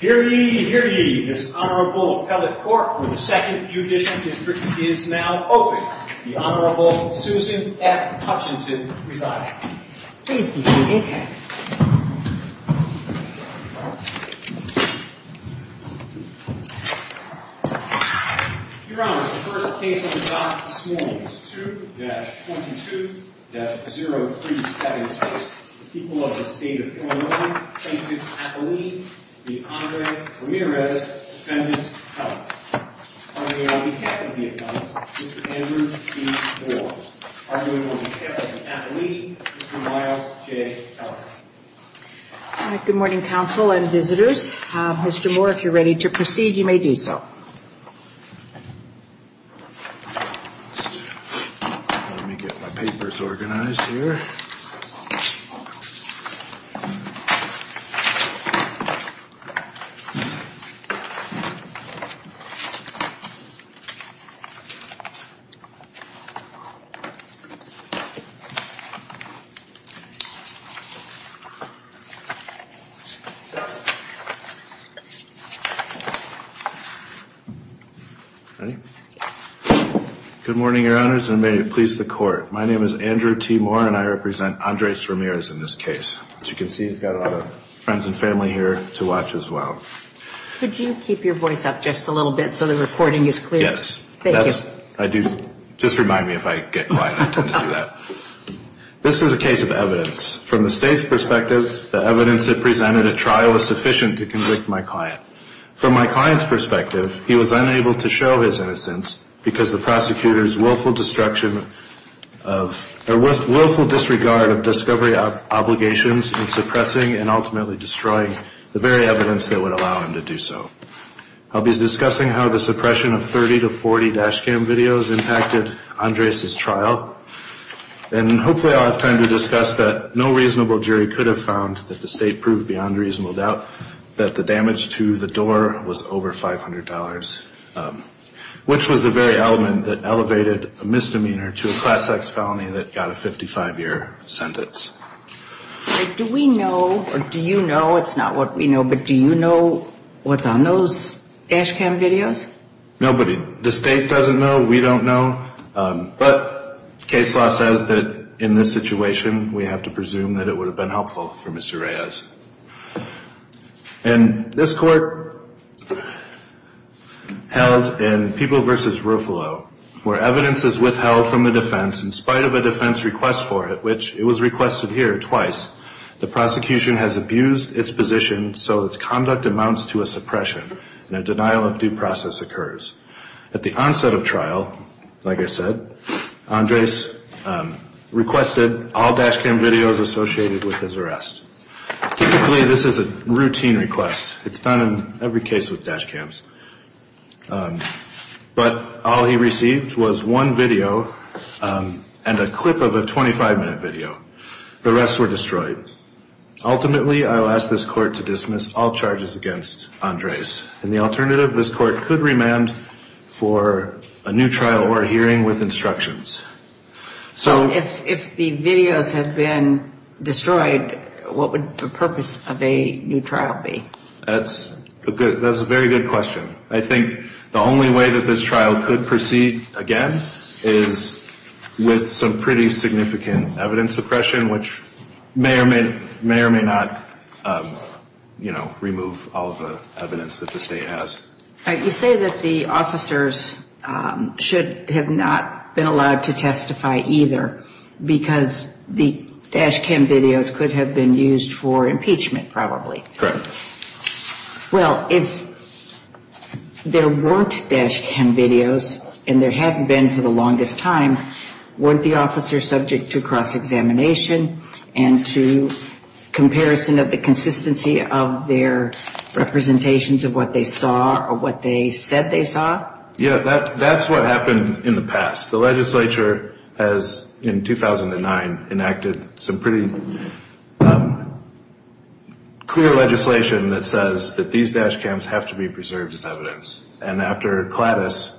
Hear ye, hear ye. This Honorable Appellate Court for the 2nd Judicial District is now open. The Honorable Susan F. Hutchinson presiding. Your Honor, the first case on the dock this morning is 2-22-0376. The people of the State of Illinois plaintiff's appellee, the Honorable Ramirez, defendant's appellant. On behalf of the appellant, Mr. Andrew B. Moore. On behalf of the appellee, Mr. Miles J. Keller. Good morning, counsel and visitors. Mr. Moore, if you're ready to proceed, you may do so. Let me get my papers organized here. Good morning, Your Honors, and may it please the Court. My name is Andrew T. Moore and I represent Andres Ramirez in this case. As you can see, he's got a lot of friends and family here to watch as well. Could you keep your voice up just a little bit so the recording is clear? Yes. Thank you. Just remind me if I get quiet. I tend to do that. This is a case of evidence. From the State's perspective, the evidence it presented at trial was sufficient to convict my client. From my client's perspective, he was unable to show his innocence because the prosecutor's willful disregard of discovery obligations in suppressing and ultimately destroying the very evidence that would allow him to do so. I'll be discussing how the suppression of 30 to 40 dash cam videos impacted Andres' trial. And hopefully I'll have time to discuss that no reasonable jury could have found that the State proved beyond reasonable doubt that the damage to the door was over $500, which was the very element that elevated a misdemeanor to a class-X felony that got a 55-year sentence. Do we know, or do you know, it's not what we know, but do you know what's on those dash cam videos? Nobody. The State doesn't know. We don't know. But case law says that in this situation we have to presume that it would have been helpful for Mr. Reyes. And this court held in People v. Ruffalo, where evidence is withheld from the defense in spite of a defense request for it, which it was requested here twice, the prosecution has abused its position so its conduct amounts to a suppression and a denial of due process occurs. At the onset of trial, like I said, Andres requested all dash cam videos associated with his arrest. Typically this is a routine request. It's not in every case with dash cams. But all he received was one video and a clip of a 25-minute video. The rest were destroyed. Ultimately, I will ask this court to dismiss all charges against Andres. And the alternative, this court could remand for a new trial or a hearing with instructions. So if the videos have been destroyed, what would the purpose of a new trial be? That's a very good question. I think the only way that this trial could proceed again is with some pretty significant evidence suppression, which may or may not, you know, remove all of the evidence that the state has. You say that the officers should have not been allowed to testify either because the dash cam videos could have been used for impeachment probably. Correct. Well, if there weren't dash cam videos and there hadn't been for the longest time, weren't the officers subject to cross-examination and to comparison of the consistency of their representations of what they saw or what they said they saw? Yeah, that's what happened in the past. The legislature has, in 2009, enacted some pretty clear legislation that says that these dash cams have to be preserved as evidence. And after Cladis,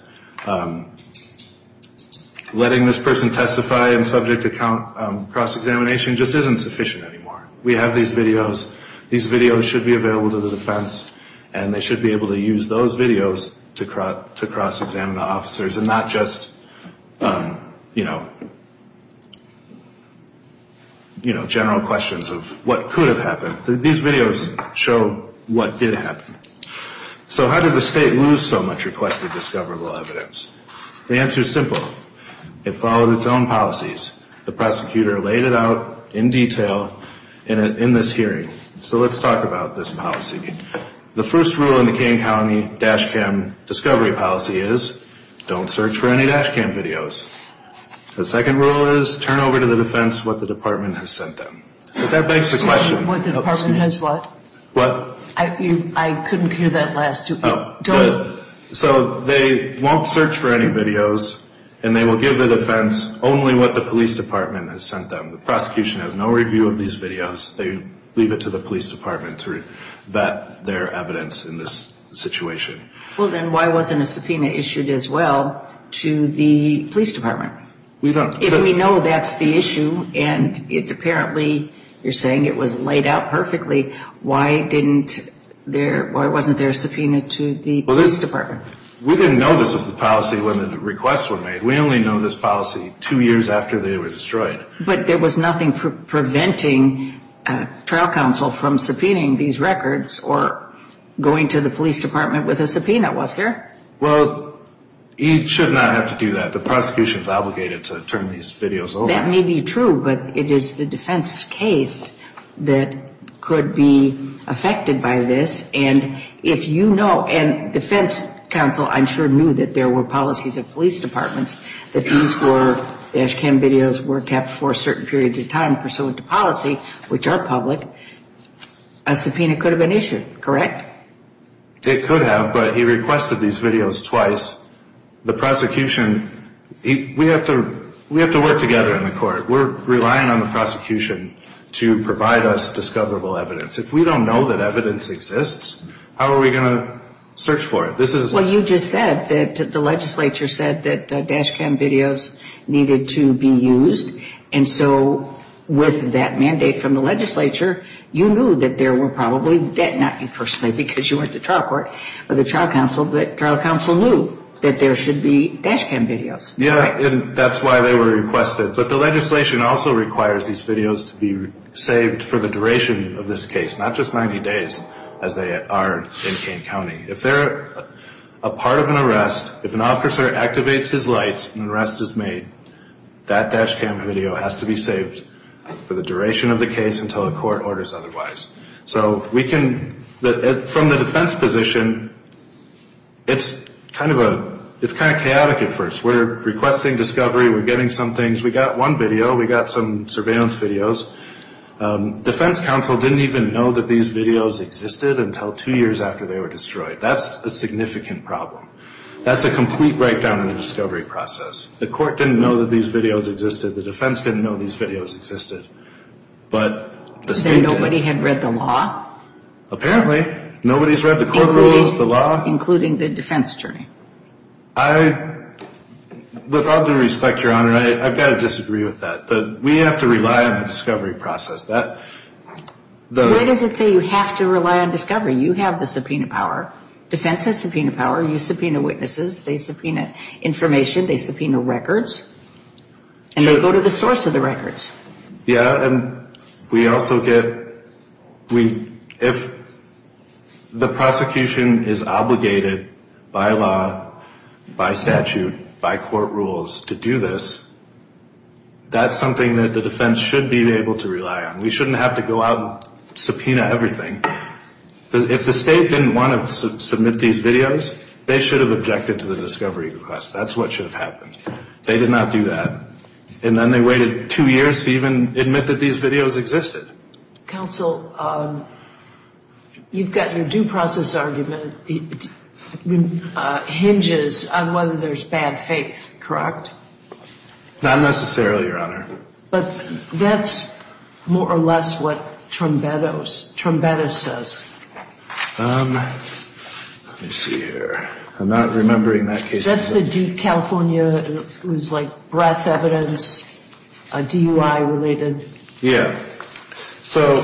letting this person testify and subject to cross-examination just isn't sufficient anymore. We have these videos. These videos should be available to the defense, and they should be able to use those videos to cross-examine the officers and not just, you know, general questions of what could have happened. These videos show what did happen. So how did the state lose so much requested discoverable evidence? The answer is simple. It followed its own policies. The prosecutor laid it out in detail in this hearing. So let's talk about this policy. The first rule in the Kane County dash cam discovery policy is don't search for any dash cam videos. The second rule is turn over to the defense what the department has sent them. Excuse me, what the department has what? What? I couldn't hear that last two people. So they won't search for any videos, and they will give the defense only what the police department has sent them. The prosecution has no review of these videos. They leave it to the police department to vet their evidence in this situation. Well, then why wasn't a subpoena issued as well to the police department? If we know that's the issue, and apparently you're saying it was laid out perfectly, why wasn't there a subpoena to the police department? We didn't know this was the policy when the requests were made. We only know this policy two years after they were destroyed. But there was nothing preventing trial counsel from subpoenaing these records or going to the police department with a subpoena, was there? Well, you should not have to do that. The prosecution is obligated to turn these videos over. Well, that may be true, but it is the defense case that could be affected by this. And if you know, and defense counsel I'm sure knew that there were policies of police departments that these were dash cam videos were kept for certain periods of time pursuant to policy, which are public, a subpoena could have been issued, correct? It could have, but he requested these videos twice. The prosecution, we have to work together in the court. We're relying on the prosecution to provide us discoverable evidence. If we don't know that evidence exists, how are we going to search for it? Well, you just said that the legislature said that dash cam videos needed to be used, and so with that mandate from the legislature, you knew that there were probably, not you personally because you weren't the trial court or the trial counsel, but trial counsel knew that there should be dash cam videos. Yeah, and that's why they were requested. But the legislation also requires these videos to be saved for the duration of this case, not just 90 days as they are in Kane County. If they're a part of an arrest, if an officer activates his lights and an arrest is made, that dash cam video has to be saved for the duration of the case until a court orders otherwise. So we can, from the defense position, it's kind of chaotic at first. We're requesting discovery. We're getting some things. We got one video. We got some surveillance videos. Defense counsel didn't even know that these videos existed until two years after they were destroyed. That's a significant problem. That's a complete breakdown of the discovery process. The court didn't know that these videos existed. The defense didn't know these videos existed, but the state did. And nobody had read the law? Apparently. Nobody's read the court rules, the law. Including the defense attorney. I, with all due respect, Your Honor, I've got to disagree with that. But we have to rely on the discovery process. Where does it say you have to rely on discovery? You have the subpoena power. Defense has subpoena power. You subpoena witnesses. They subpoena information. They subpoena records. And they go to the source of the records. Yeah, and we also get, we, if the prosecution is obligated by law, by statute, by court rules to do this, that's something that the defense should be able to rely on. We shouldn't have to go out and subpoena everything. If the state didn't want to submit these videos, they should have objected to the discovery request. That's what should have happened. They did not do that. And then they waited two years to even admit that these videos existed. Counsel, you've got your due process argument hinges on whether there's bad faith, correct? Not necessarily, Your Honor. But that's more or less what Trombettos, Trombettos says. Let me see here. I'm not remembering that case. That's the Duke, California. It was like breath evidence, DUI related. Yeah. So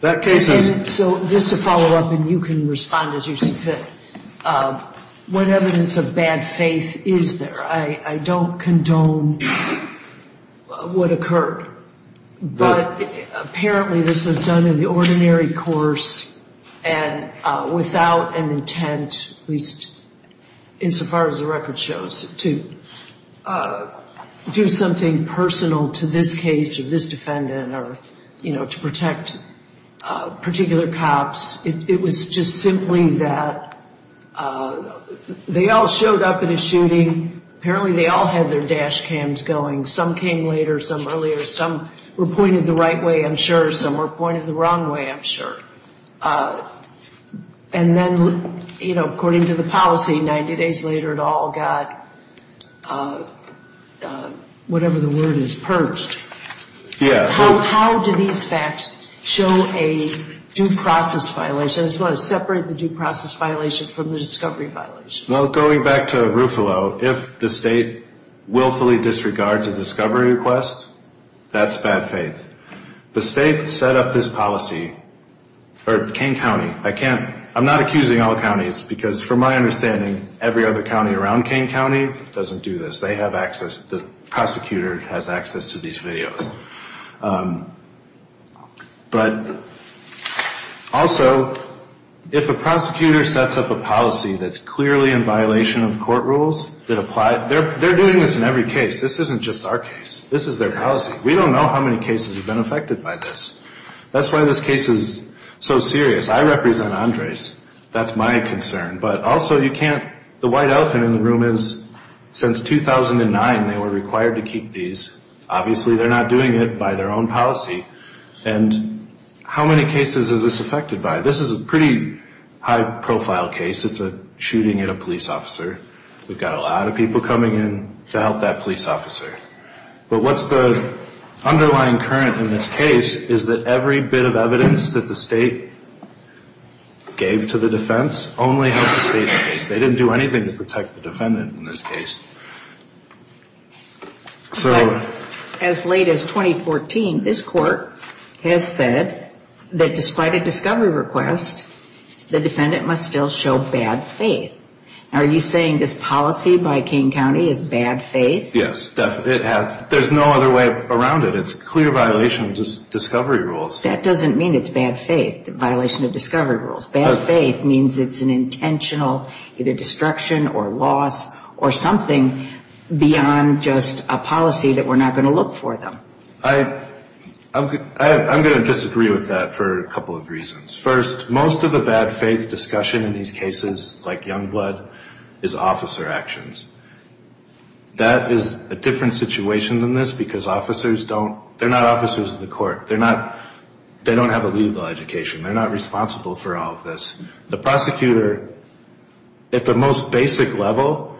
that case is. So just to follow up and you can respond as you see fit. What evidence of bad faith is there? I don't condone what occurred. But apparently this was done in the ordinary course and without an intent, at least insofar as the record shows, to do something personal to this case, to this defendant or, you know, to protect particular cops. It was just simply that they all showed up at a shooting. Apparently they all had their dash cams going. Some came later, some earlier. Some were pointed the right way, I'm sure. Some were pointed the wrong way, I'm sure. And then, you know, according to the policy, 90 days later it all got whatever the word is, purged. Yeah. How do these facts show a due process violation? I just want to separate the due process violation from the discovery violation. Well, going back to Ruffalo, if the state willfully disregards a discovery request, that's bad faith. The state set up this policy, or Kane County, I can't, I'm not accusing all counties, because from my understanding every other county around Kane County doesn't do this. They have access, the prosecutor has access to these videos. But also if a prosecutor sets up a policy that's clearly in violation of court rules that apply, they're doing this in every case. This isn't just our case. This is their policy. We don't know how many cases have been affected by this. That's why this case is so serious. I represent Andres. That's my concern. But also you can't, the white elephant in the room is since 2009 they were required to keep these. Obviously they're not doing it by their own policy. And how many cases is this affected by? This is a pretty high profile case. It's a shooting at a police officer. We've got a lot of people coming in to help that police officer. But what's the underlying current in this case is that every bit of evidence that the state gave to the defense only helps the state's case. They didn't do anything to protect the defendant in this case. As late as 2014, this court has said that despite a discovery request, the defendant must still show bad faith. Are you saying this policy by King County is bad faith? Yes. There's no other way around it. It's a clear violation of discovery rules. That doesn't mean it's bad faith, the violation of discovery rules. Bad faith means it's an intentional either destruction or loss or something beyond just a policy that we're not going to look for them. I'm going to disagree with that for a couple of reasons. First, most of the bad faith discussion in these cases, like Youngblood, is officer actions. That is a different situation than this because officers don't, they're not officers of the court. They're not, they don't have a legal education. They're not responsible for all of this. The prosecutor, at the most basic level,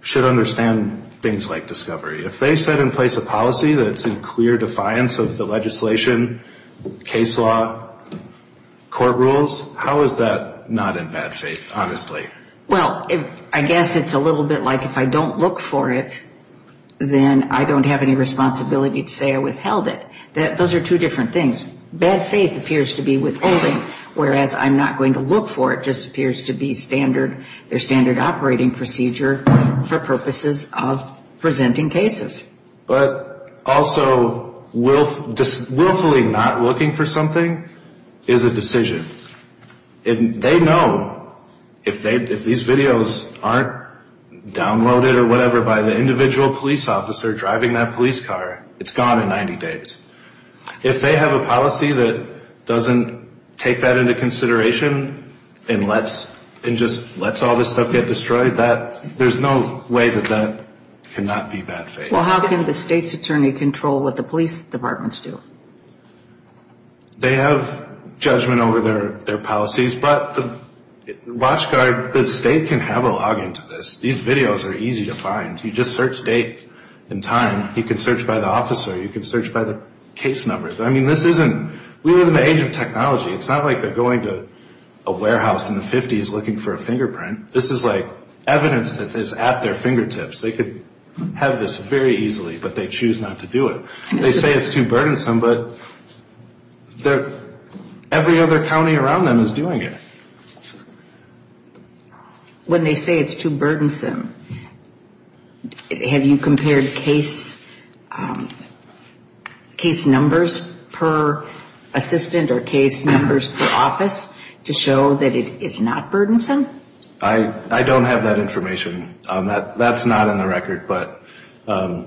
should understand things like discovery. If they set in place a policy that's in clear defiance of the legislation, case law, court rules, how is that not in bad faith, honestly? Well, I guess it's a little bit like if I don't look for it, then I don't have any responsibility to say I withheld it. Those are two different things. Bad faith appears to be withholding, whereas I'm not going to look for it just appears to be standard, their standard operating procedure for purposes of presenting cases. But also willfully not looking for something is a decision. They know if these videos aren't downloaded or whatever by the individual police officer driving that police car, it's gone in 90 days. If they have a policy that doesn't take that into consideration and lets all this stuff get destroyed, there's no way that that cannot be bad faith. Well, how can the state's attorney control what the police departments do? They have judgment over their policies, but the watch guard, the state can have a login to this. These videos are easy to find. You just search date and time. You can search by the officer. You can search by the case numbers. I mean, this isn't we live in the age of technology. It's not like they're going to a warehouse in the 50s looking for a fingerprint. This is like evidence that is at their fingertips. They could have this very easily, but they choose not to do it. They say it's too burdensome, but every other county around them is doing it. When they say it's too burdensome, have you compared case numbers per assistant or case numbers per office to show that it is not burdensome? I don't have that information. That's not in the record.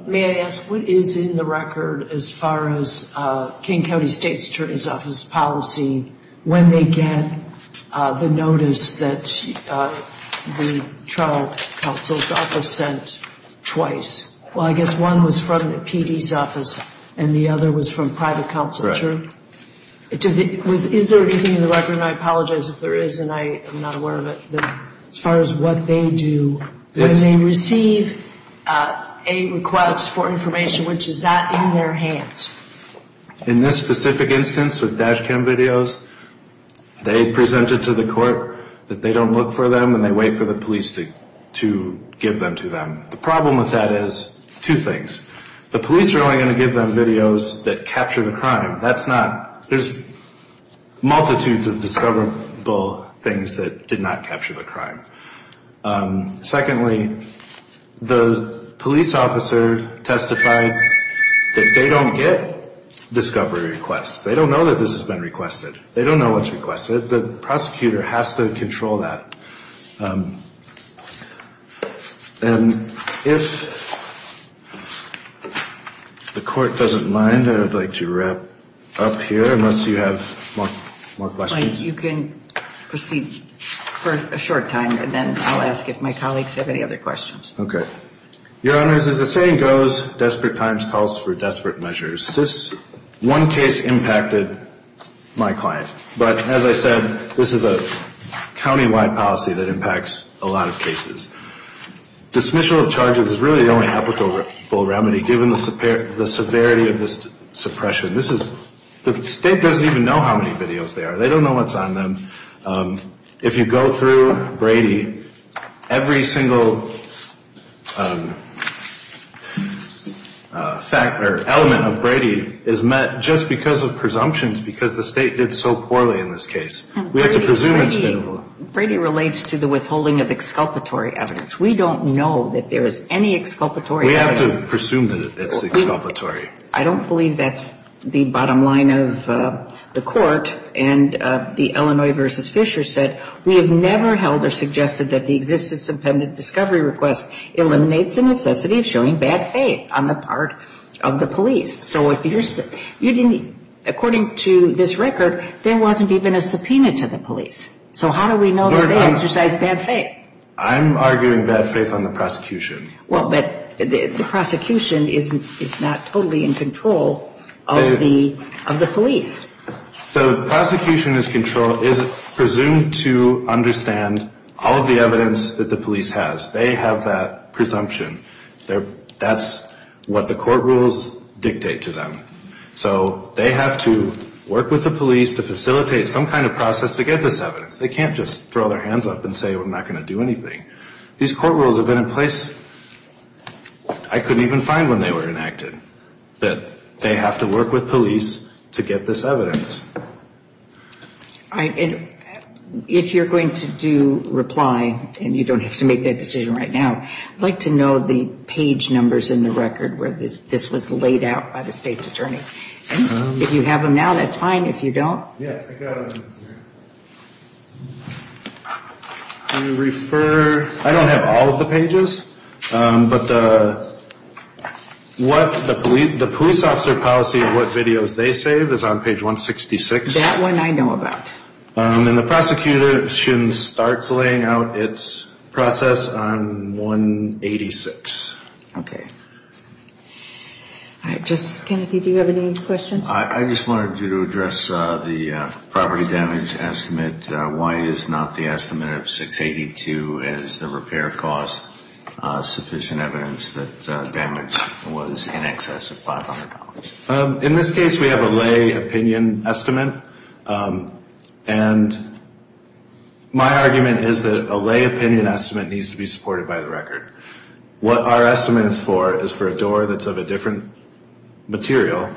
May I ask what is in the record as far as King County State's Attorney's Office policy when they get the notice that the trial counsel's office sent twice? Well, I guess one was from the PD's office and the other was from private counsel. Correct. Is there anything in the record, and I apologize if there is and I am not aware of it, as far as what they do when they receive a request for information, which is that in their hands? In this specific instance with dash cam videos, they presented to the court that they don't look for them and they wait for the police to give them to them. The problem with that is two things. The police are only going to give them videos that capture the crime. There's multitudes of discoverable things that did not capture the crime. Secondly, the police officer testified that they don't get discovery requests. They don't know that this has been requested. They don't know what's requested. The prosecutor has to control that. And if the court doesn't mind, I'd like to wrap up here unless you have more questions. Mike, you can proceed for a short time and then I'll ask if my colleagues have any other questions. Okay. Your Honors, as the saying goes, desperate times calls for desperate measures. This one case impacted my client. But as I said, this is a countywide policy that impacts a lot of cases. Dismissal of charges is really the only applicable remedy given the severity of this suppression. The state doesn't even know how many videos there are. They don't know what's on them. If you go through Brady, every single element of Brady is met just because of presumptions because the state did so poorly in this case. Brady relates to the withholding of exculpatory evidence. We don't know that there is any exculpatory evidence. We have to presume that it's exculpatory. I don't believe that's the bottom line of the court. And the Illinois v. Fisher said, we have never held or suggested that the existence of pendant discovery request eliminates the necessity of showing bad faith on the part of the police. So if you didn't, according to this record, there wasn't even a subpoena to the police. So how do we know that they exercised bad faith? I'm arguing bad faith on the prosecution. Well, but the prosecution is not totally in control of the police. The prosecution is presumed to understand all of the evidence that the police has. They have that presumption. That's what the court rules dictate to them. So they have to work with the police to facilitate some kind of process to get this evidence. They can't just throw their hands up and say, I'm not going to do anything. These court rules have been in place, I couldn't even find when they were enacted, that they have to work with police to get this evidence. If you're going to do reply, and you don't have to make that decision right now, I'd like to know the page numbers in the record where this was laid out by the state's attorney. If you have them now, that's fine. If you don't. I don't have all of the pages, but the police officer policy of what videos they save is on page 166. That one I know about. And the prosecution starts laying out its process on 186. Okay. All right, Justice Kennedy, do you have any questions? I just wanted you to address the property damage estimate. Why is not the estimate of 682 as the repair cost sufficient evidence that damage was in excess of $500? In this case, we have a lay opinion estimate. And my argument is that a lay opinion estimate needs to be supported by the record. What our estimate is for is for a door that's of a different material.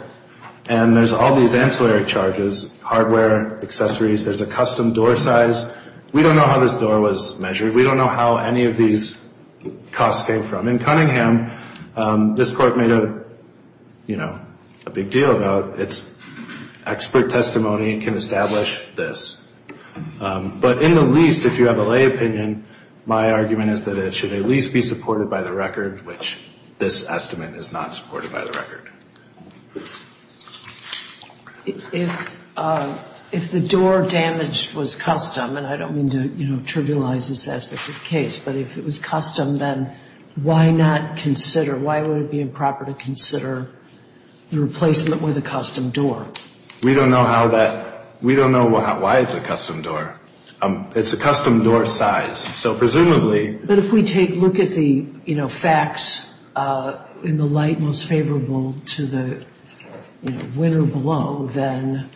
And there's all these ancillary charges, hardware, accessories. There's a custom door size. We don't know how this door was measured. We don't know how any of these costs came from. In Cunningham, this court made a, you know, a big deal about its expert testimony and can establish this. But in the least, if you have a lay opinion, my argument is that it should at least be supported by the record, which this estimate is not supported by the record. If the door damage was custom, and I don't mean to, you know, trivialize this aspect of the case, but if it was custom, then why not consider, why would it be improper to consider the replacement with a custom door? We don't know how that ‑‑ we don't know why it's a custom door. It's a custom door size. So presumably ‑‑ But if we take a look at the, you know, facts in the light most favorable to the, you know, winner below, then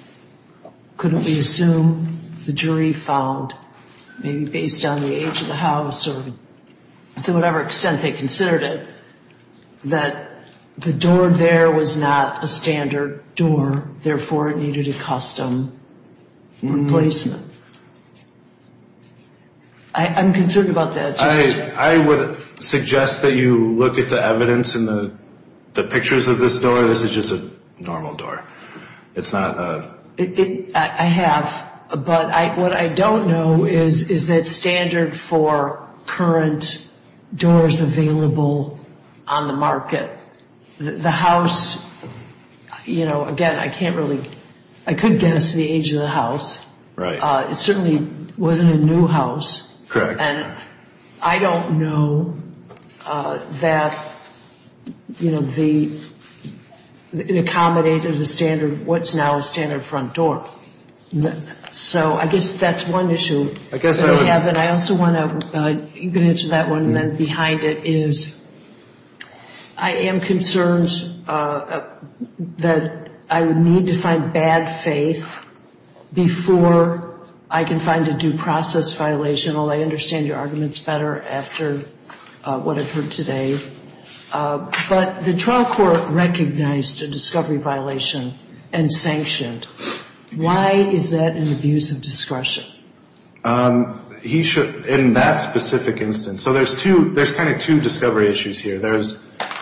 couldn't we assume the jury found, maybe based on the age of the house or to whatever extent they considered it, that the door there was not a standard door, therefore it needed a custom replacement? I'm concerned about that. I would suggest that you look at the evidence in the pictures of this door. This is just a normal door. It's not a ‑‑ I have, but what I don't know is that standard for current doors available on the market. The house, you know, again, I can't really ‑‑ I could guess the age of the house. Right. It certainly wasn't a new house. Correct. And I don't know that, you know, the ‑‑ it accommodated the standard of what's now a standard front door. So I guess that's one issue. I guess I would ‑‑ I have, and I also want to ‑‑ you can answer that one, and then behind it is I am concerned that I would need to find bad faith before I can find a due process violation. I understand your arguments better after what I've heard today. But the trial court recognized a discovery violation and sanctioned. Why is that an abuse of discretion? He should, in that specific instance, so there's two, there's kind of two discovery issues here. There's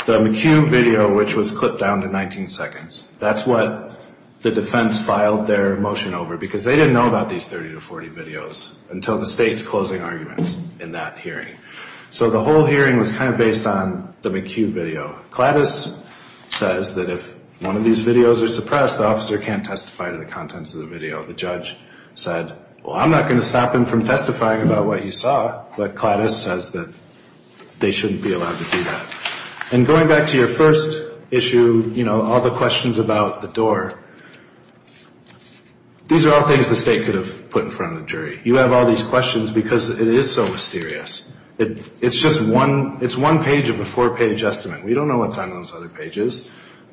the McHugh video, which was clipped down to 19 seconds. That's what the defense filed their motion over, because they didn't know about these 30 to 40 videos until the state's closing arguments in that hearing. So the whole hearing was kind of based on the McHugh video. Clattis says that if one of these videos are suppressed, the officer can't testify to the contents of the video. The judge said, well, I'm not going to stop him from testifying about what he saw, but Clattis says that they shouldn't be allowed to do that. And going back to your first issue, you know, all the questions about the door, these are all things the state could have put in front of the jury. You have all these questions because it is so mysterious. It's just one, it's one page of a four-page estimate. We don't know what's on those other pages.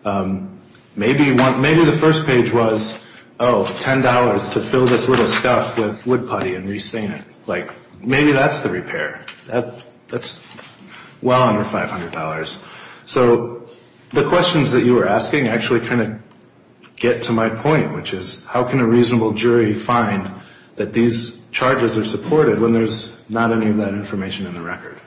Maybe the first page was, oh, $10 to fill this little stuff with wood putty and re-stain it. Like, maybe that's the repair. That's well under $500. So the questions that you were asking actually kind of get to my point, which is how can a reasonable jury find that these charges are supported when there's not any of that information in the record?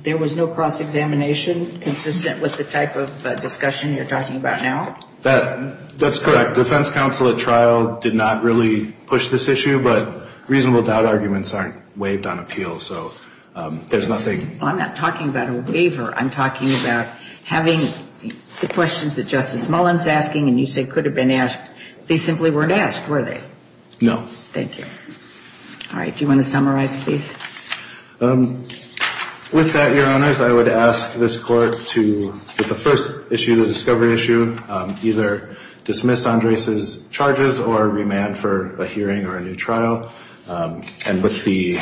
There was no cross-examination consistent with the type of discussion you're talking about now? That's correct. Defense counsel at trial did not really push this issue, but reasonable doubt arguments aren't waived on appeals, so there's nothing. I'm not talking about a waiver. I'm talking about having the questions that Justice Mullen's asking and you say could have been asked. They simply weren't asked, were they? No. Thank you. All right. Do you want to summarize, please? With that, Your Honors, I would ask this Court to, with the first issue, the discovery issue, either dismiss Andres' charges or remand for a hearing or a new trial. And with the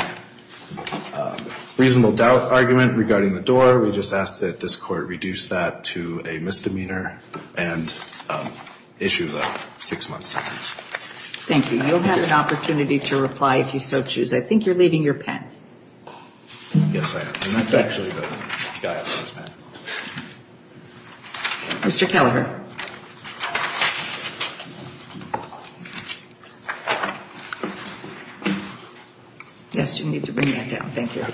reasonable doubt argument regarding the door, we just ask that this Court reduce that to a misdemeanor and issue the six-month sentence. Thank you. You'll have an opportunity to reply if you so choose. I think you're leaving your pen. Yes, I am. And that's actually the guy who has the pen. Mr. Kelleher. Yes, you need to bring that down. Thank you.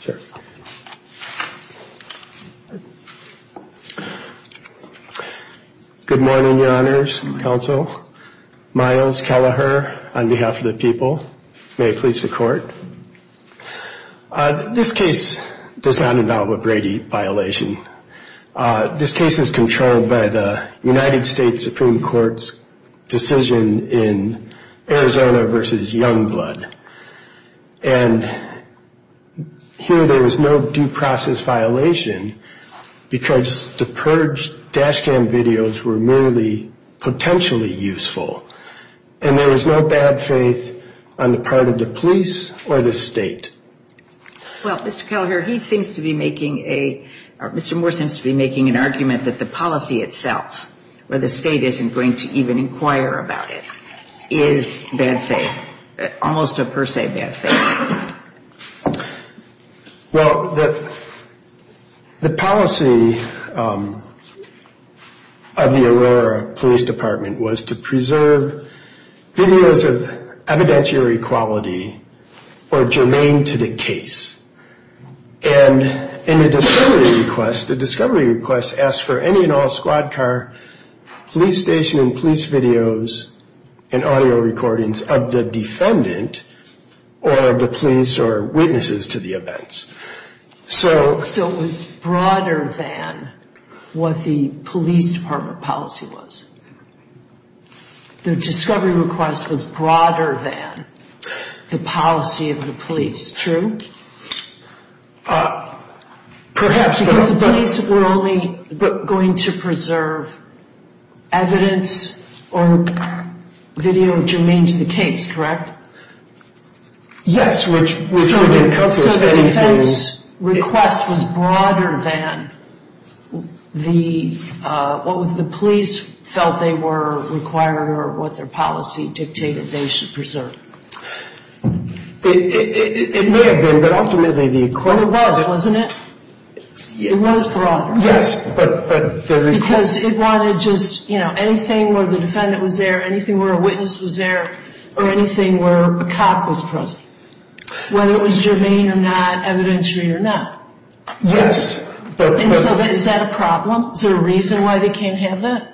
Sure. Good morning, Your Honors and Counsel. Myles Kelleher on behalf of the people. May it please the Court. This case does not involve a Brady violation. This case is controlled by the Supreme Court. It is controlled by the United States Supreme Court's decision in Arizona v. Youngblood. And here there was no due process violation because the purged dash cam videos were merely potentially useful. And there was no bad faith on the part of the police or the state. Well, Mr. Kelleher, he seems to be making a – Mr. Moore seems to be making an argument that the policy itself, where the state isn't going to even inquire about it, is bad faith, almost a per se bad faith. Well, the policy of the Aurora Police Department was to preserve videos of evidentiary quality or germane to the case. And in the discovery request, the discovery request asked for any and all squad car police station and police videos and audio recordings of the defendant or of the police or witnesses to the events. So it was broader than what the police department policy was. The discovery request was broader than the policy of the police, true? Perhaps because the police were only going to preserve evidence or video germane to the case, correct? Yes. So the defense request was broader than what the police felt they were required or what their policy dictated they should preserve. It may have been, but ultimately the – But it was, wasn't it? It was broader. Yes, but – Because it wanted just, you know, anything where the defendant was there, anything where a witness was there, or anything where a cop was present, whether it was germane or not, evidentiary or not. Yes, but – And so is that a problem? Is there a reason why they can't have that?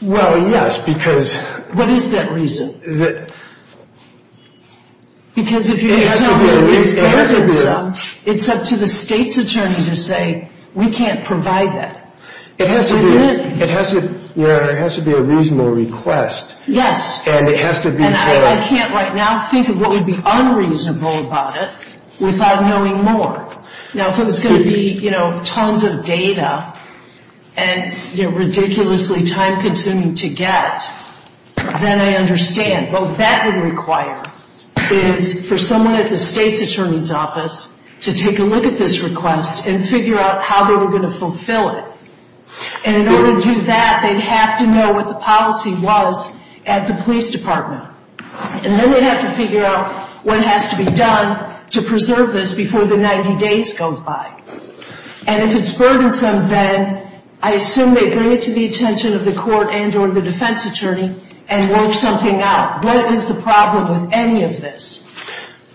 Well, yes, because – What is that reason? Because if you – It has to be a reasonable – It's up to the state's attorney to say, we can't provide that. It has to be – Isn't it? It has to be a reasonable request. Yes. And it has to be for – And I can't right now think of what would be unreasonable about it without knowing more. Now, if it was going to be, you know, tons of data and ridiculously time-consuming to get, then I understand. What that would require is for someone at the state's attorney's office to take a look at this request and figure out how they were going to fulfill it. And in order to do that, they'd have to know what the policy was at the police department. And then they'd have to figure out what has to be done to preserve this before the 90 days goes by. And if it's burdensome, then I assume they bring it to the attention of the court and or the defense attorney and work something out. What is the problem with any of this?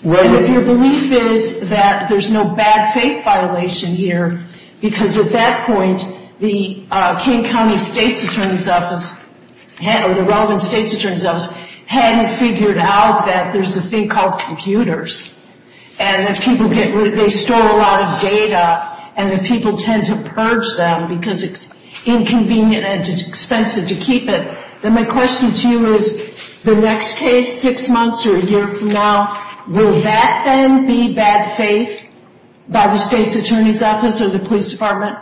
Well – And if your belief is that there's no bad faith violation here, because at that point the King County state's attorney's office – or the relevant state's attorney's office hadn't figured out that there's a thing called computers. And that people get rid of – they store a lot of data and that people tend to purge them because it's inconvenient and expensive to keep it. Then my question to you is, the next case, six months or a year from now, will that then be bad faith by the state's attorney's office or the police department?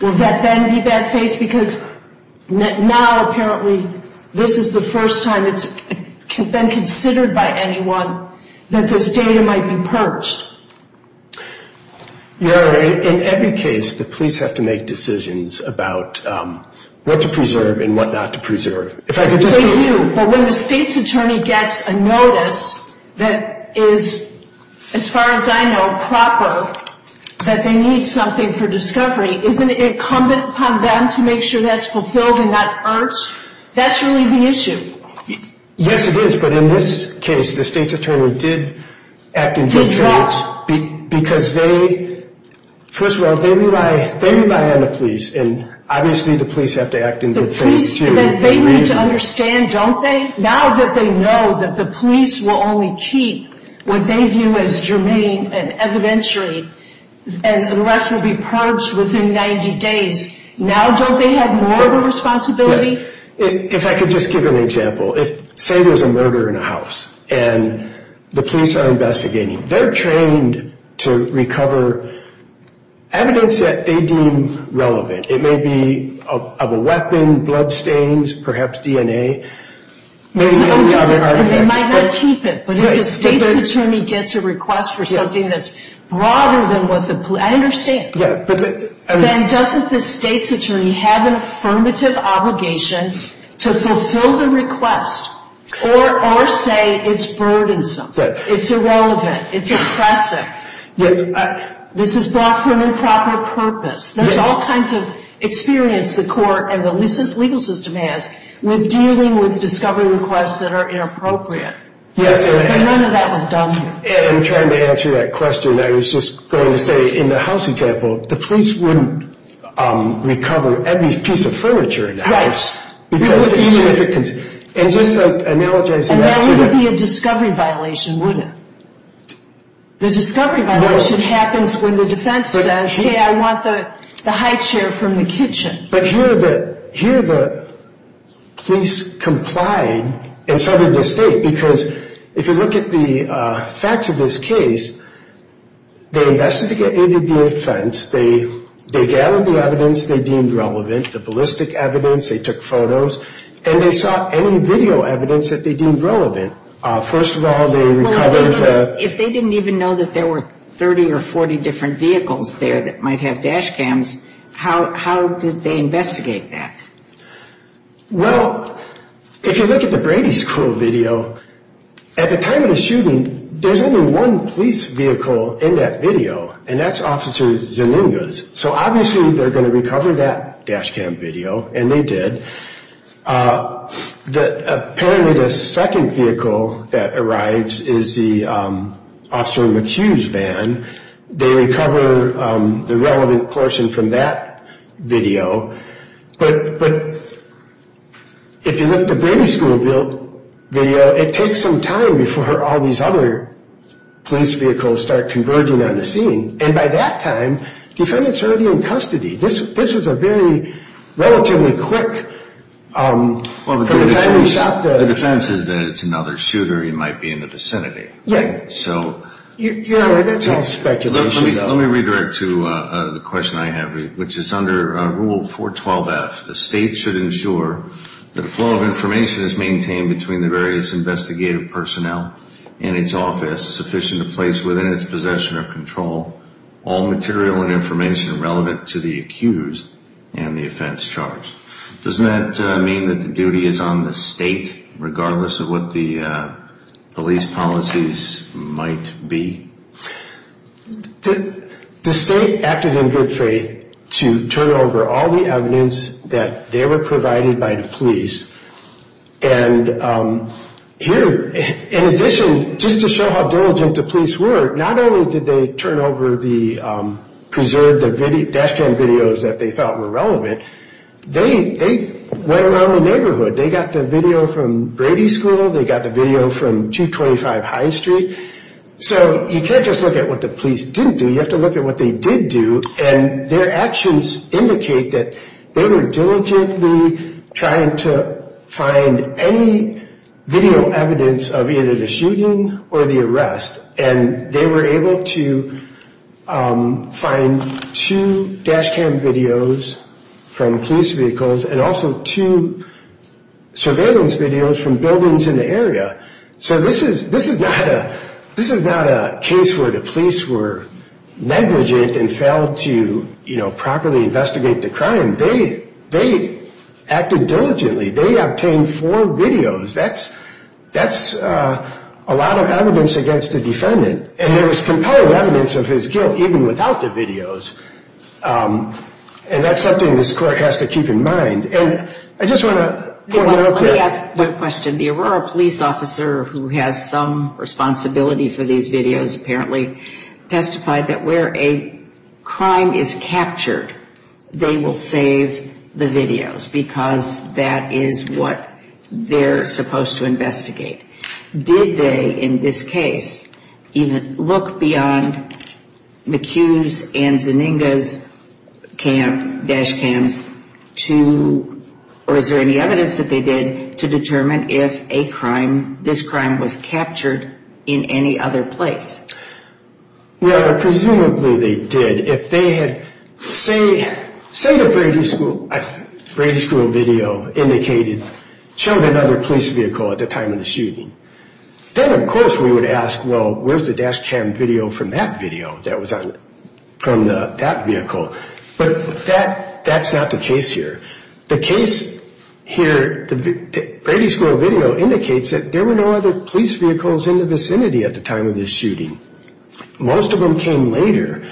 Will that then be bad faith? Because now, apparently, this is the first time it's been considered by anyone that this data might be purged. In every case, the police have to make decisions about what to preserve and what not to preserve. They do. But when the state's attorney gets a notice that is, as far as I know, proper, that they need something for discovery, isn't it incumbent upon them to make sure that's fulfilled and not purged? That's really the issue. Yes, it is. But in this case, the state's attorney did act in good faith. Did what? Because they – first of all, they rely on the police. And obviously, the police have to act in good faith, too. The police – they need to understand, don't they, now that they know that the police will only keep what they view as germane and evidentiary unless it will be purged within 90 days. Now, don't they have more of a responsibility? If I could just give an example. Say there's a murder in a house and the police are investigating. They're trained to recover evidence that they deem relevant. It may be of a weapon, bloodstains, perhaps DNA, maybe any other artifact. And they might not keep it. But if the state's attorney gets a request for something that's broader than what the police – I understand. Then doesn't the state's attorney have an affirmative obligation to fulfill the request or say it's burdensome, it's irrelevant, it's oppressive, this was brought for an improper purpose? There's all kinds of experience the court and the legal system has with dealing with discovery requests that are inappropriate. But none of that was done. I'm trying to answer that question. And I was just going to say, in the house example, the police wouldn't recover every piece of furniture in the house because of significance. And just analogizing that to – And that wouldn't be a discovery violation, would it? The discovery violation happens when the defense says, hey, I want the high chair from the kitchen. But here the police complied and so did the state. Because if you look at the facts of this case, they investigated the defense, they gathered the evidence they deemed relevant, the ballistic evidence, they took photos, and they sought any video evidence that they deemed relevant. First of all, they recovered the – If they didn't even know that there were 30 or 40 different vehicles there that might have dash cams, how did they investigate that? Well, if you look at the Brady School video, at the time of the shooting, there's only one police vehicle in that video, and that's Officer Zeninga's. So obviously they're going to recover that dash cam video, and they did. Apparently the second vehicle that arrives is the Officer McHugh's van. They recover the relevant portion from that video. But if you look at the Brady School video, it takes some time before all these other police vehicles start converging on the scene. And by that time, defendants are already in custody. This was a very relatively quick – The defense is that it's another shooter. He might be in the vicinity. You're right. That's all speculation, though. Let me redirect to the question I have, which is under Rule 412F, the state should ensure that a flow of information is maintained between the various investigative personnel in its office sufficient to place within its possession or control all material and information relevant to the accused and the offense charged. Doesn't that mean that the duty is on the state, regardless of what the police policies might be? The state acted in good faith to turn over all the evidence that they were provided by the police. And here, in addition, just to show how diligent the police were, not only did they turn over the preserved dash cam videos that they thought were relevant, they went around the neighborhood. They got the video from Brady School. They got the video from 225 High Street. So you can't just look at what the police didn't do. You have to look at what they did do. And their actions indicate that they were diligently trying to find any video evidence of either the shooting or the arrest. And they were able to find two dash cam videos from police vehicles and also two surveillance videos from buildings in the area. So this is not a case where the police were negligent and failed to, you know, properly investigate the crime. They acted diligently. They obtained four videos. That's a lot of evidence against the defendant. And there was compelling evidence of his guilt, even without the videos. And that's something this court has to keep in mind. And I just want to point out that- Let me ask one question. The Aurora police officer, who has some responsibility for these videos, apparently testified that where a crime is captured, they will save the videos because that is what they're supposed to investigate. Did they, in this case, even look beyond McHugh's and Zeninga's dash cams to- or is there any evidence that they did to determine if this crime was captured in any other place? Yeah, presumably they did. And if they had- Say the Brady School video indicated children under a police vehicle at the time of the shooting. Then, of course, we would ask, well, where's the dash cam video from that video that was on- from that vehicle? But that's not the case here. The case here- The Brady School video indicates that there were no other police vehicles in the vicinity at the time of the shooting. Most of them came later.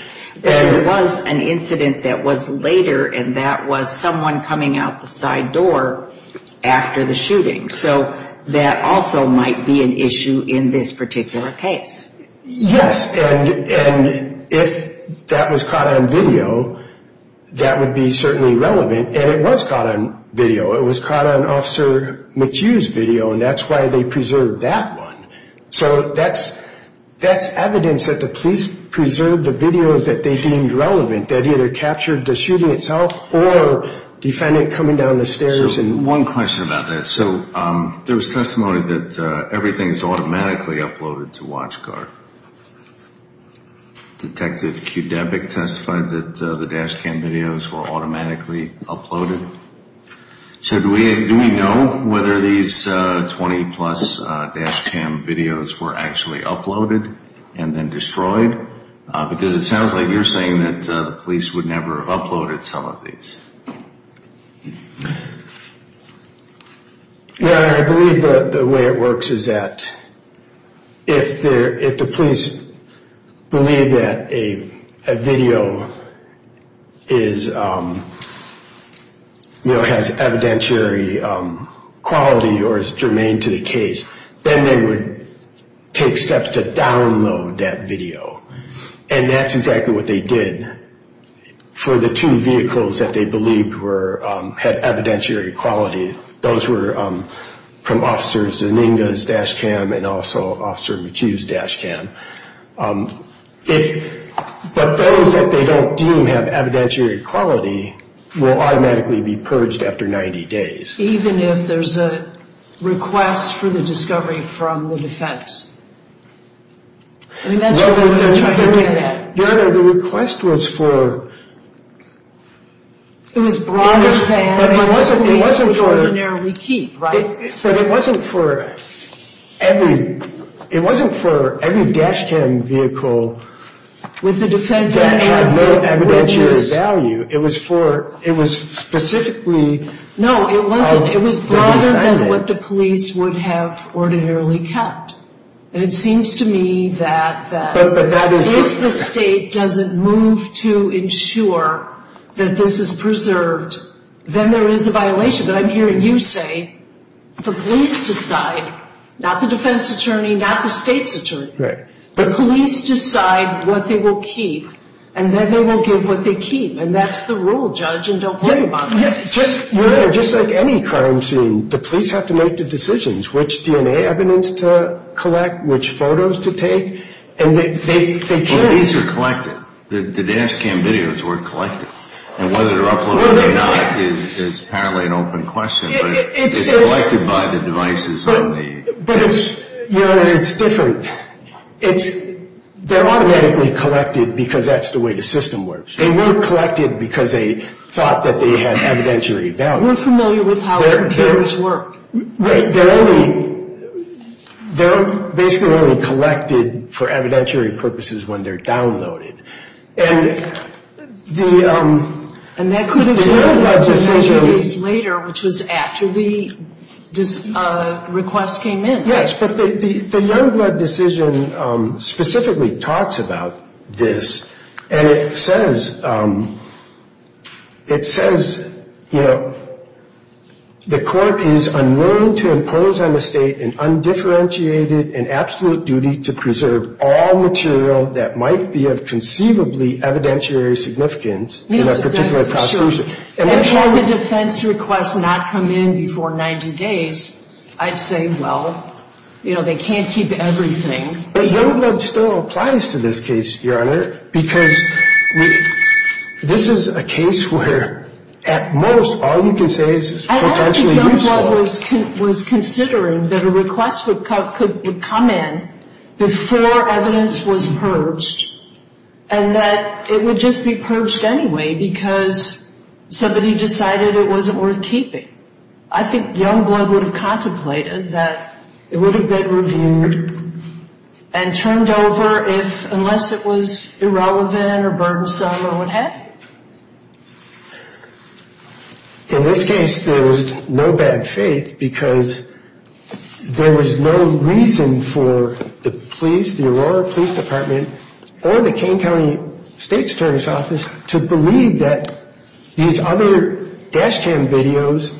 There was an incident that was later, and that was someone coming out the side door after the shooting. So that also might be an issue in this particular case. Yes, and if that was caught on video, that would be certainly relevant. And it was caught on video. It was caught on Officer McHugh's video, and that's why they preserved that one. So that's evidence that the police preserved the videos that they deemed relevant, that either captured the shooting itself or defendant coming down the stairs and- So one question about that. So there was testimony that everything is automatically uploaded to WatchGuard. Detective Qdebik testified that the dash cam videos were automatically uploaded. So do we know whether these 20-plus dash cam videos were actually uploaded and then destroyed? Because it sounds like you're saying that the police would never have uploaded some of these. Yeah, I believe the way it works is that if the police believe that a video has evidentiary quality or is germane to the case, then they would take steps to download that video. And that's exactly what they did for the two vehicles that they believed had evidentiary quality. Those were from Officer Zeninga's dash cam and also Officer McHugh's dash cam. But those that they don't deem have evidentiary quality will automatically be purged after 90 days. Even if there's a request for the discovery from the defense? I mean, that's what they're trying to do. Your Honor, the request was for- It was broader than what the police would ordinarily keep, right? But it wasn't for every dash cam vehicle that had no evidentiary value. It was specifically- No, it wasn't. It was broader than what the police would have ordinarily kept. And it seems to me that if the state doesn't move to ensure that this is preserved, then there is a violation. But I'm hearing you say the police decide, not the defense attorney, not the state's attorney. Right. The police decide what they will keep, and then they will give what they keep. And that's the rule, Judge, and don't worry about that. Your Honor, just like any crime scene, the police have to make the decisions, which DNA evidence to collect, which photos to take. And they can't- Well, these are collected. The dash cam videos were collected. And whether they're uploaded or not is apparently an open question. But it's collected by the devices on the dash cam. Your Honor, it's different. They're automatically collected because that's the way the system works. They weren't collected because they thought that they had evidentiary value. We're familiar with how computers work. They're basically only collected for evidentiary purposes when they're downloaded. And the Youngblood decision- And that could have happened a few days later, which was after the request came in. Yes, but the Youngblood decision specifically talks about this. And it says, you know, the court is unwilling to impose on the State an undifferentiated and absolute duty to preserve all material that might be of conceivably evidentiary significance in a particular prosecution. And for the defense request not to come in before 90 days, I'd say, well, you know, they can't keep everything. But Youngblood still applies to this case, Your Honor, because this is a case where at most all you can say is potentially useful. I don't think Youngblood was considering that a request would come in before evidence was purged and that it would just be purged anyway because somebody decided it wasn't worth keeping. I think Youngblood would have contemplated that it would have been reviewed and turned over unless it was irrelevant or burdensome or what have you. In this case, there was no bad faith because there was no reason for the police, the Aurora Police Department, or the Kane County State's Attorney's Office to believe that these other dash cam videos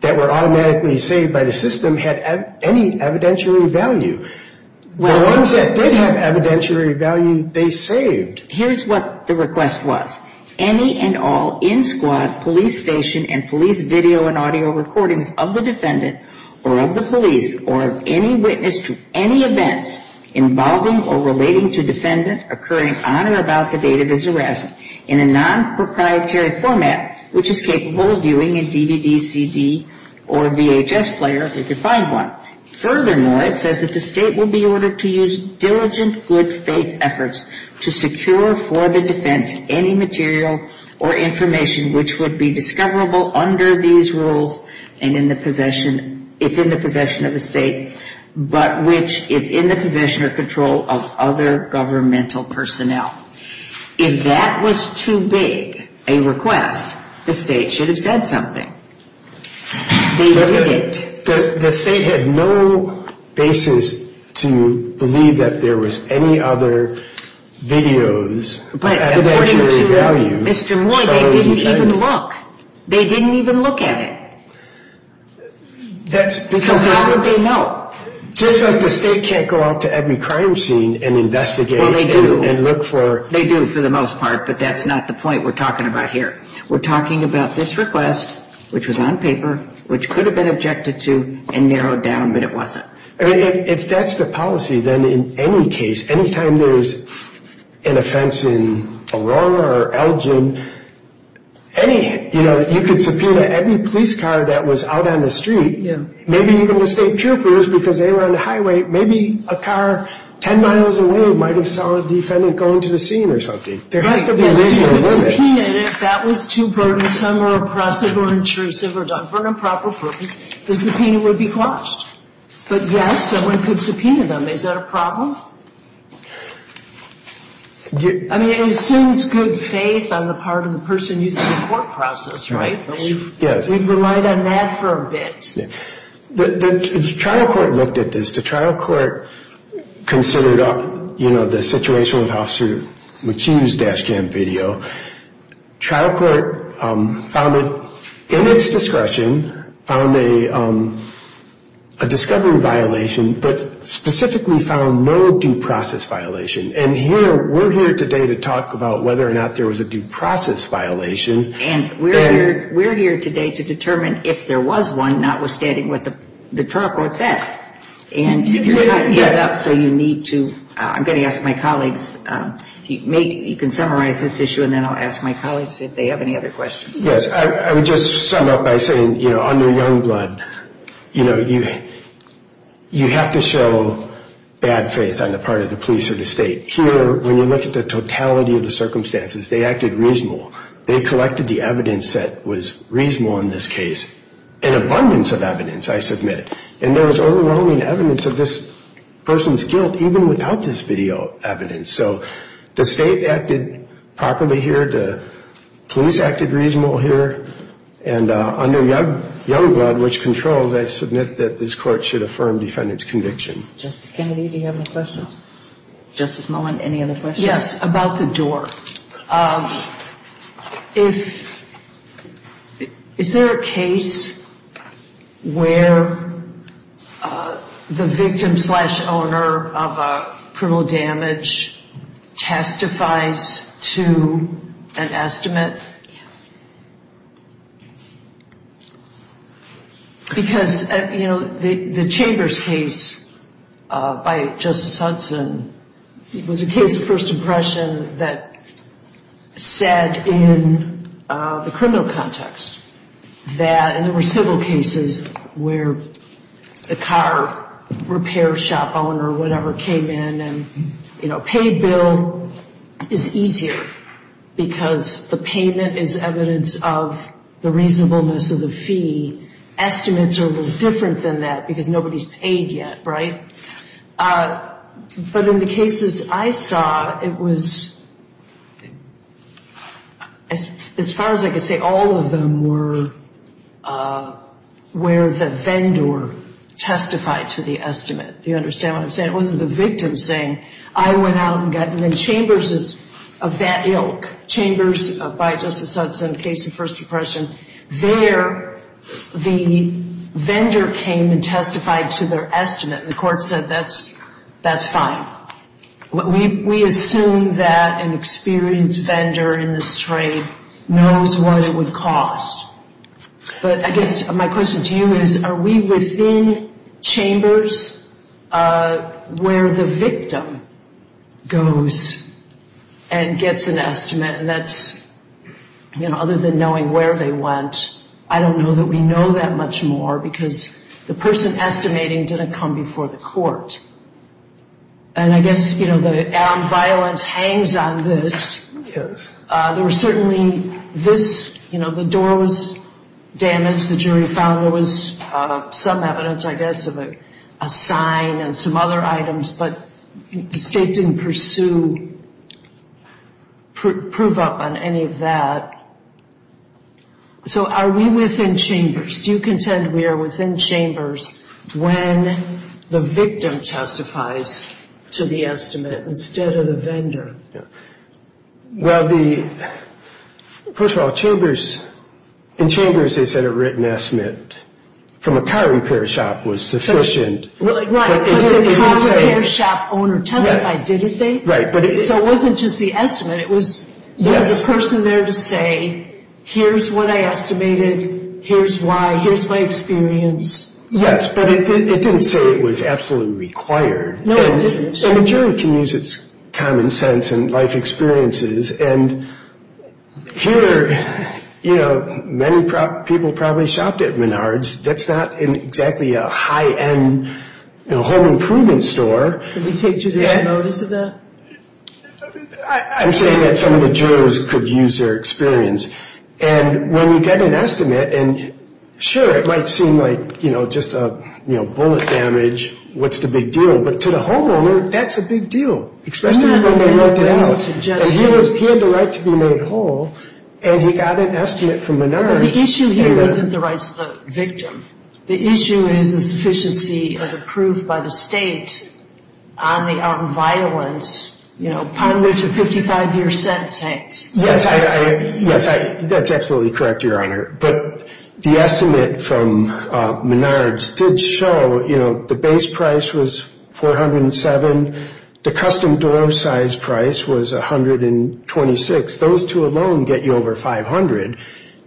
that were automatically saved by the system had any evidentiary value. The ones that did have evidentiary value, they saved. Here's what the request was. Any and all in-squad police station and police video and audio recordings of the defendant or of the police or of any witness to any events involving or relating to defendant occurring on or about the date of his arrest in a non-proprietary format which is capable of viewing a DVD, CD, or VHS player if you find one. Furthermore, it says that the state will be ordered to use diligent good faith efforts to secure for the defense any material or information which would be discoverable under these rules and in the possession, if in the possession of the state, but which is in the possession or control of other governmental personnel. If that was too big a request, the state should have said something. They did it. The state had no basis to believe that there was any other videos with evidentiary value. But according to Mr. Moy, they didn't even look. They didn't even look at it. So how did they know? Just like the state can't go out to every crime scene and investigate and look for... Well, they do. They do for the most part, but that's not the point we're talking about here. We're talking about this request, which was on paper, which could have been objected to and narrowed down, but it wasn't. If that's the policy, then in any case, any time there's an offense in Aurora or Elgin, you could subpoena every police car that was out on the street, maybe even the state troopers because they were on the highway, maybe a car 10 miles away might have saw a defendant going to the scene or something. There has to be a reasonable limit. If that was too burdensome or oppressive or intrusive or done for an improper purpose, the subpoena would be quashed. But yes, someone could subpoena them. Is that a problem? I mean, it assumes good faith on the part of the person using the court process, right? We've relied on that for a bit. The trial court looked at this. The trial court considered the situation with Officer McHugh's dash cam video. Trial court found it in its discretion, found a discovery violation, but specifically found no due process violation. And we're here today to talk about whether or not there was a due process violation. And we're here today to determine if there was one notwithstanding what the trial court said. And your time is up, so you need to – I'm going to ask my colleagues. You can summarize this issue, and then I'll ask my colleagues if they have any other questions. Yes. I would just sum up by saying, you know, under Youngblood, you know, you have to show bad faith on the part of the police or the state. Here, when you look at the totality of the circumstances, they acted reasonable. They collected the evidence that was reasonable in this case, an abundance of evidence, I submit. And there was overwhelming evidence of this person's guilt even without this video evidence. So the state acted properly here. The police acted reasonable here. And under Youngblood, which controls, I submit that this court should affirm defendant's conviction. Justice Kennedy, do you have any questions? Justice Mullen, any other questions? Yes, about the door. Is there a case where the victim-slash-owner of a criminal damage testifies to an estimate? Yes. Because, you know, the Chambers case by Justice Hudson was a case of first impression that said in the criminal context that, and there were several cases where the car repair shop owner or whatever came in and, you know, a paid bill is easier because the payment is evidence of the reasonableness of the fee. Estimates are a little different than that because nobody's paid yet, right? But in the cases I saw, it was, as far as I could say, all of them were where the vendor testified to the estimate. And it wasn't the victim saying, I went out and got, and then Chambers is of that ilk. Chambers, by Justice Hudson, case of first impression, there the vendor came and testified to their estimate, and the court said that's fine. We assume that an experienced vendor in this trade knows what it would cost. But I guess my question to you is, are we within Chambers where the victim goes and gets an estimate? And that's, you know, other than knowing where they went, I don't know that we know that much more because the person estimating didn't come before the court. And I guess, you know, the armed violence hangs on this. There was certainly this, you know, the door was damaged. The jury found there was some evidence, I guess, of a sign and some other items, but the state didn't pursue proof up on any of that. So are we within Chambers? Do you contend we are within Chambers when the victim testifies to the estimate instead of the vendor? Well, the, first of all, Chambers, in Chambers they said a written estimate from a car repair shop was sufficient. Right, but the car repair shop owner testified, didn't they? Right. So it wasn't just the estimate. There was a person there to say, here's what I estimated, here's why, here's my experience. Yes, but it didn't say it was absolutely required. No, it didn't. And the jury can use its common sense and life experiences. And here, you know, many people probably shopped at Menards. That's not exactly a high-end home improvement store. Did they take judicial notice of that? I'm saying that some of the jurors could use their experience. And when you get an estimate, and sure, it might seem like, you know, just a bullet damage, what's the big deal? But to the homeowner, that's a big deal, especially when they worked it out. And he had the right to be made whole, and he got an estimate from Menards. But the issue here isn't the rights of the victim. The issue is the sufficiency of the proof by the state on the violence, you know, upon which a 55-year sentence hangs. Yes, that's absolutely correct, Your Honor. But the estimate from Menards did show, you know, the base price was 407. The custom door size price was 126. Those two alone get you over 500.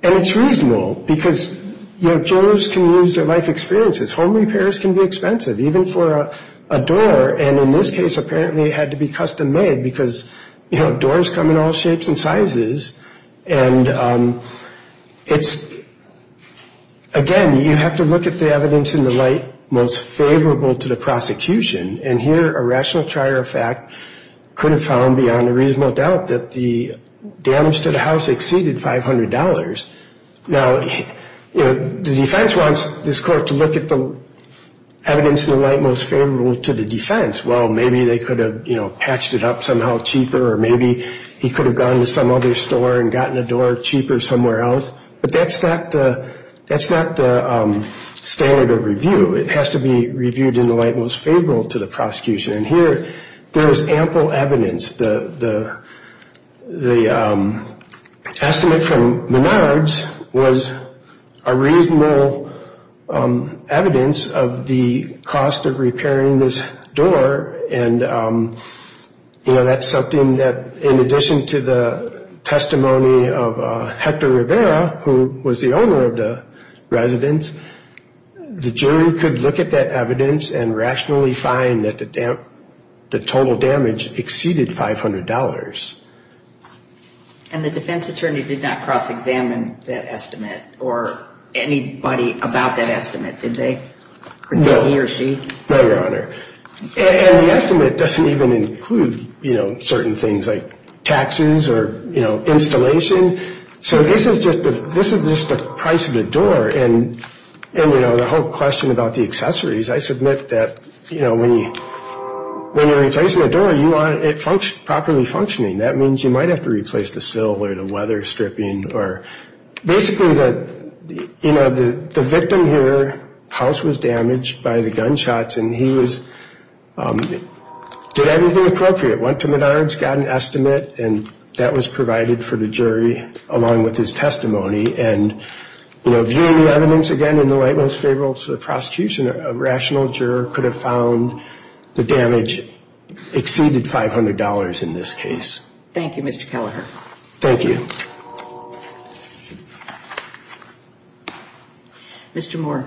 And it's reasonable because, you know, jurors can use their life experiences. Home repairs can be expensive, even for a door. And in this case, apparently it had to be custom-made because, you know, doors come in all shapes and sizes. And it's, again, you have to look at the evidence in the light most favorable to the prosecution. And here a rational charge of fact could have found beyond a reasonable doubt that the damage to the house exceeded $500. Now, you know, the defense wants this court to look at the evidence in the light most favorable to the defense. Well, maybe they could have, you know, patched it up somehow cheaper, or maybe he could have gone to some other store and gotten a door cheaper somewhere else. But that's not the standard of review. It has to be reviewed in the light most favorable to the prosecution. And here there is ample evidence. The estimate from Menards was a reasonable evidence of the cost of repairing this door. And, you know, that's something that in addition to the testimony of Hector Rivera, who was the owner of the residence, the jury could look at that evidence and rationally find that the total damage exceeded $500. And the defense attorney did not cross-examine that estimate or anybody about that estimate, did they? No. He or she? No, Your Honor. And the estimate doesn't even include, you know, certain things like taxes or, you know, installation. So this is just the price of the door. And, you know, the whole question about the accessories, I submit that, you know, when you're replacing a door, you want it properly functioning. That means you might have to replace the sill or the weather stripping or basically the, you know, the victim here's house was damaged by the gunshots, and he did everything appropriate, went to Menards, got an estimate, and that was provided for the jury along with his testimony. And, you know, viewing the evidence again in the light most favorable to the prosecution, a rational juror could have found the damage exceeded $500 in this case. Thank you, Mr. Kelleher. Thank you. Mr. Moore.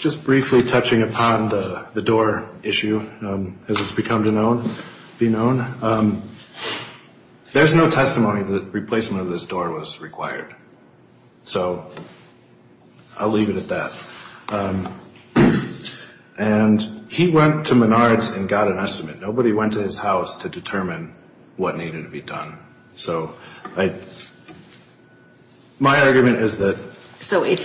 Just briefly touching upon the door issue as it's become to be known, there's no testimony that replacement of this door was required. So I'll leave it at that. And he went to Menards and got an estimate. Nobody went to his house to determine what needed to be done. So my argument is that... So if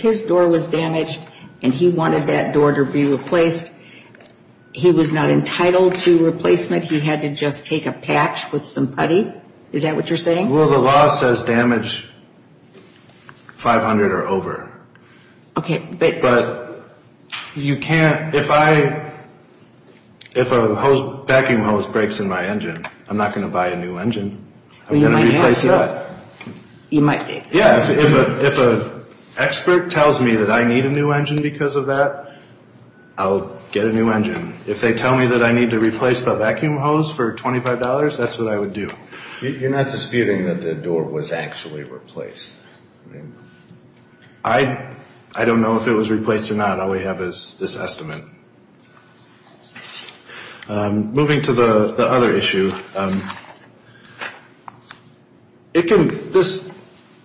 his door was damaged and he wanted that door to be replaced, he was not entitled to replacement? He had to just take a patch with some putty? Is that what you're saying? Well, the law says damage $500 or over. Okay. But you can't... If a vacuum hose breaks in my engine, I'm not going to buy a new engine. I'm going to replace that. You might. Yeah. If an expert tells me that I need a new engine because of that, I'll get a new engine. If they tell me that I need to replace the vacuum hose for $25, that's what I would do. You're not disputing that the door was actually replaced? I don't know if it was replaced or not. All we have is this estimate. Moving to the other issue, it can...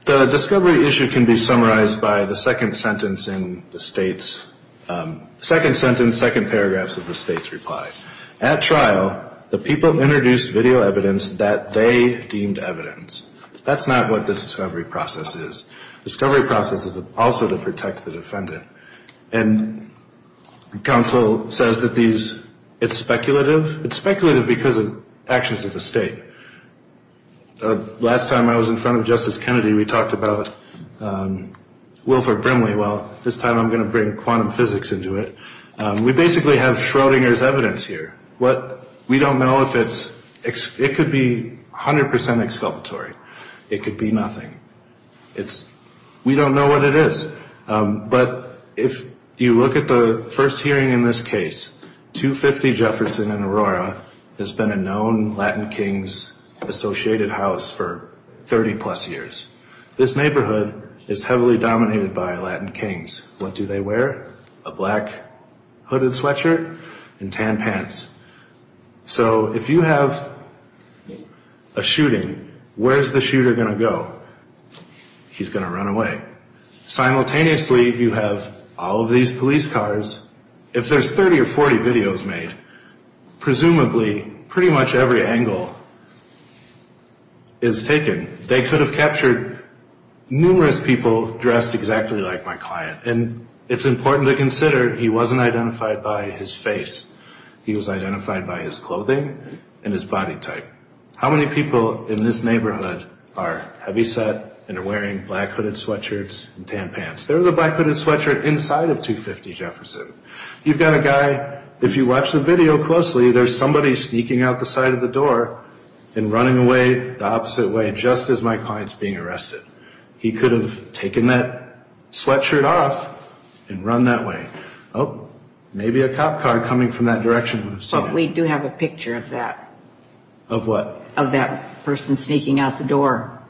The discovery issue can be summarized by the second sentence in the state's... Second sentence, second paragraphs of the state's reply. At trial, the people introduced video evidence that they deemed evidence. That's not what the discovery process is. Discovery process is also to protect the defendant. And counsel says that these... It's speculative. It's speculative because of actions of the state. Last time I was in front of Justice Kennedy, we talked about Wilford Brimley. Well, this time I'm going to bring quantum physics into it. We basically have Schrodinger's evidence here. We don't know if it's... It could be 100% exculpatory. It could be nothing. We don't know what it is. But if you look at the first hearing in this case, 250 Jefferson and Aurora has been a known Latin Kings associated house for 30-plus years. This neighborhood is heavily dominated by Latin Kings. What do they wear? A black hooded sweatshirt and tan pants. So if you have a shooting, where's the shooter going to go? He's going to run away. Simultaneously, you have all of these police cars. If there's 30 or 40 videos made, presumably pretty much every angle is taken. They could have captured numerous people dressed exactly like my client. And it's important to consider he wasn't identified by his face. He was identified by his clothing and his body type. How many people in this neighborhood are heavyset and are wearing black hooded sweatshirts and tan pants? There's a black hooded sweatshirt inside of 250 Jefferson. You've got a guy, if you watch the video closely, there's somebody sneaking out the side of the door and running away the opposite way just as my client's being arrested. He could have taken that sweatshirt off and run that way. Oh, maybe a cop car coming from that direction would have seen him. But we do have a picture of that. Of what? Of that person sneaking out the door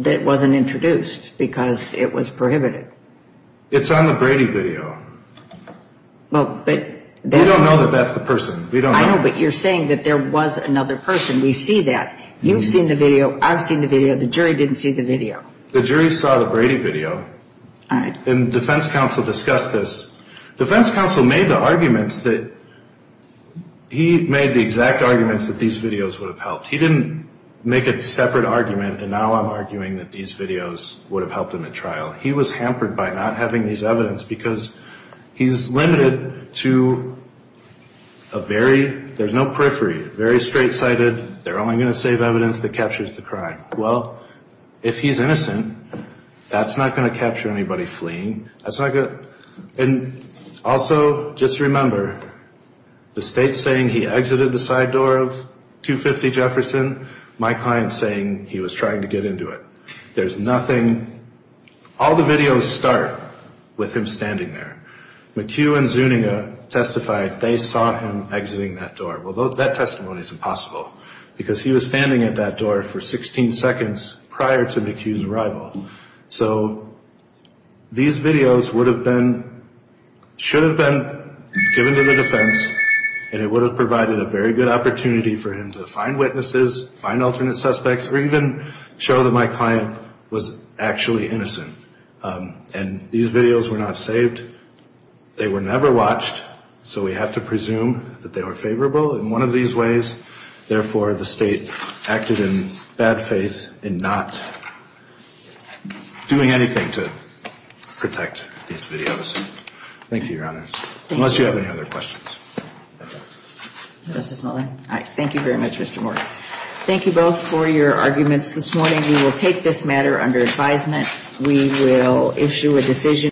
that wasn't introduced because it was prohibited. It's on the Brady video. We don't know that that's the person. I know, but you're saying that there was another person. We see that. You've seen the video. I've seen the video. The jury didn't see the video. The jury saw the Brady video. All right. And defense counsel discussed this. Defense counsel made the arguments that he made the exact arguments that these videos would have helped. He didn't make a separate argument, and now I'm arguing that these videos would have helped him at trial. He was hampered by not having these evidence because he's limited to a very, there's no periphery, very straight-sided, they're only going to save evidence that captures the crime. Well, if he's innocent, that's not going to capture anybody fleeing. That's not going to. And also, just remember, the state's saying he exited the side door of 250 Jefferson. My client's saying he was trying to get into it. There's nothing, all the videos start with him standing there. McHugh and Zuniga testified they saw him exiting that door. Well, that testimony is impossible because he was standing at that door for 16 seconds prior to McHugh's arrival. So these videos would have been, should have been given to the defense, and it would have provided a very good opportunity for him to find witnesses, find alternate suspects, or even show that my client was actually innocent. And these videos were not saved. They were never watched, so we have to presume that they were favorable in one of these ways. Therefore, the state acted in bad faith in not doing anything to protect these videos. Thank you, Your Honor, unless you have any other questions. Thank you very much, Mr. Moore. Thank you both for your arguments this morning. We will take this matter under advisement. We will issue a decision.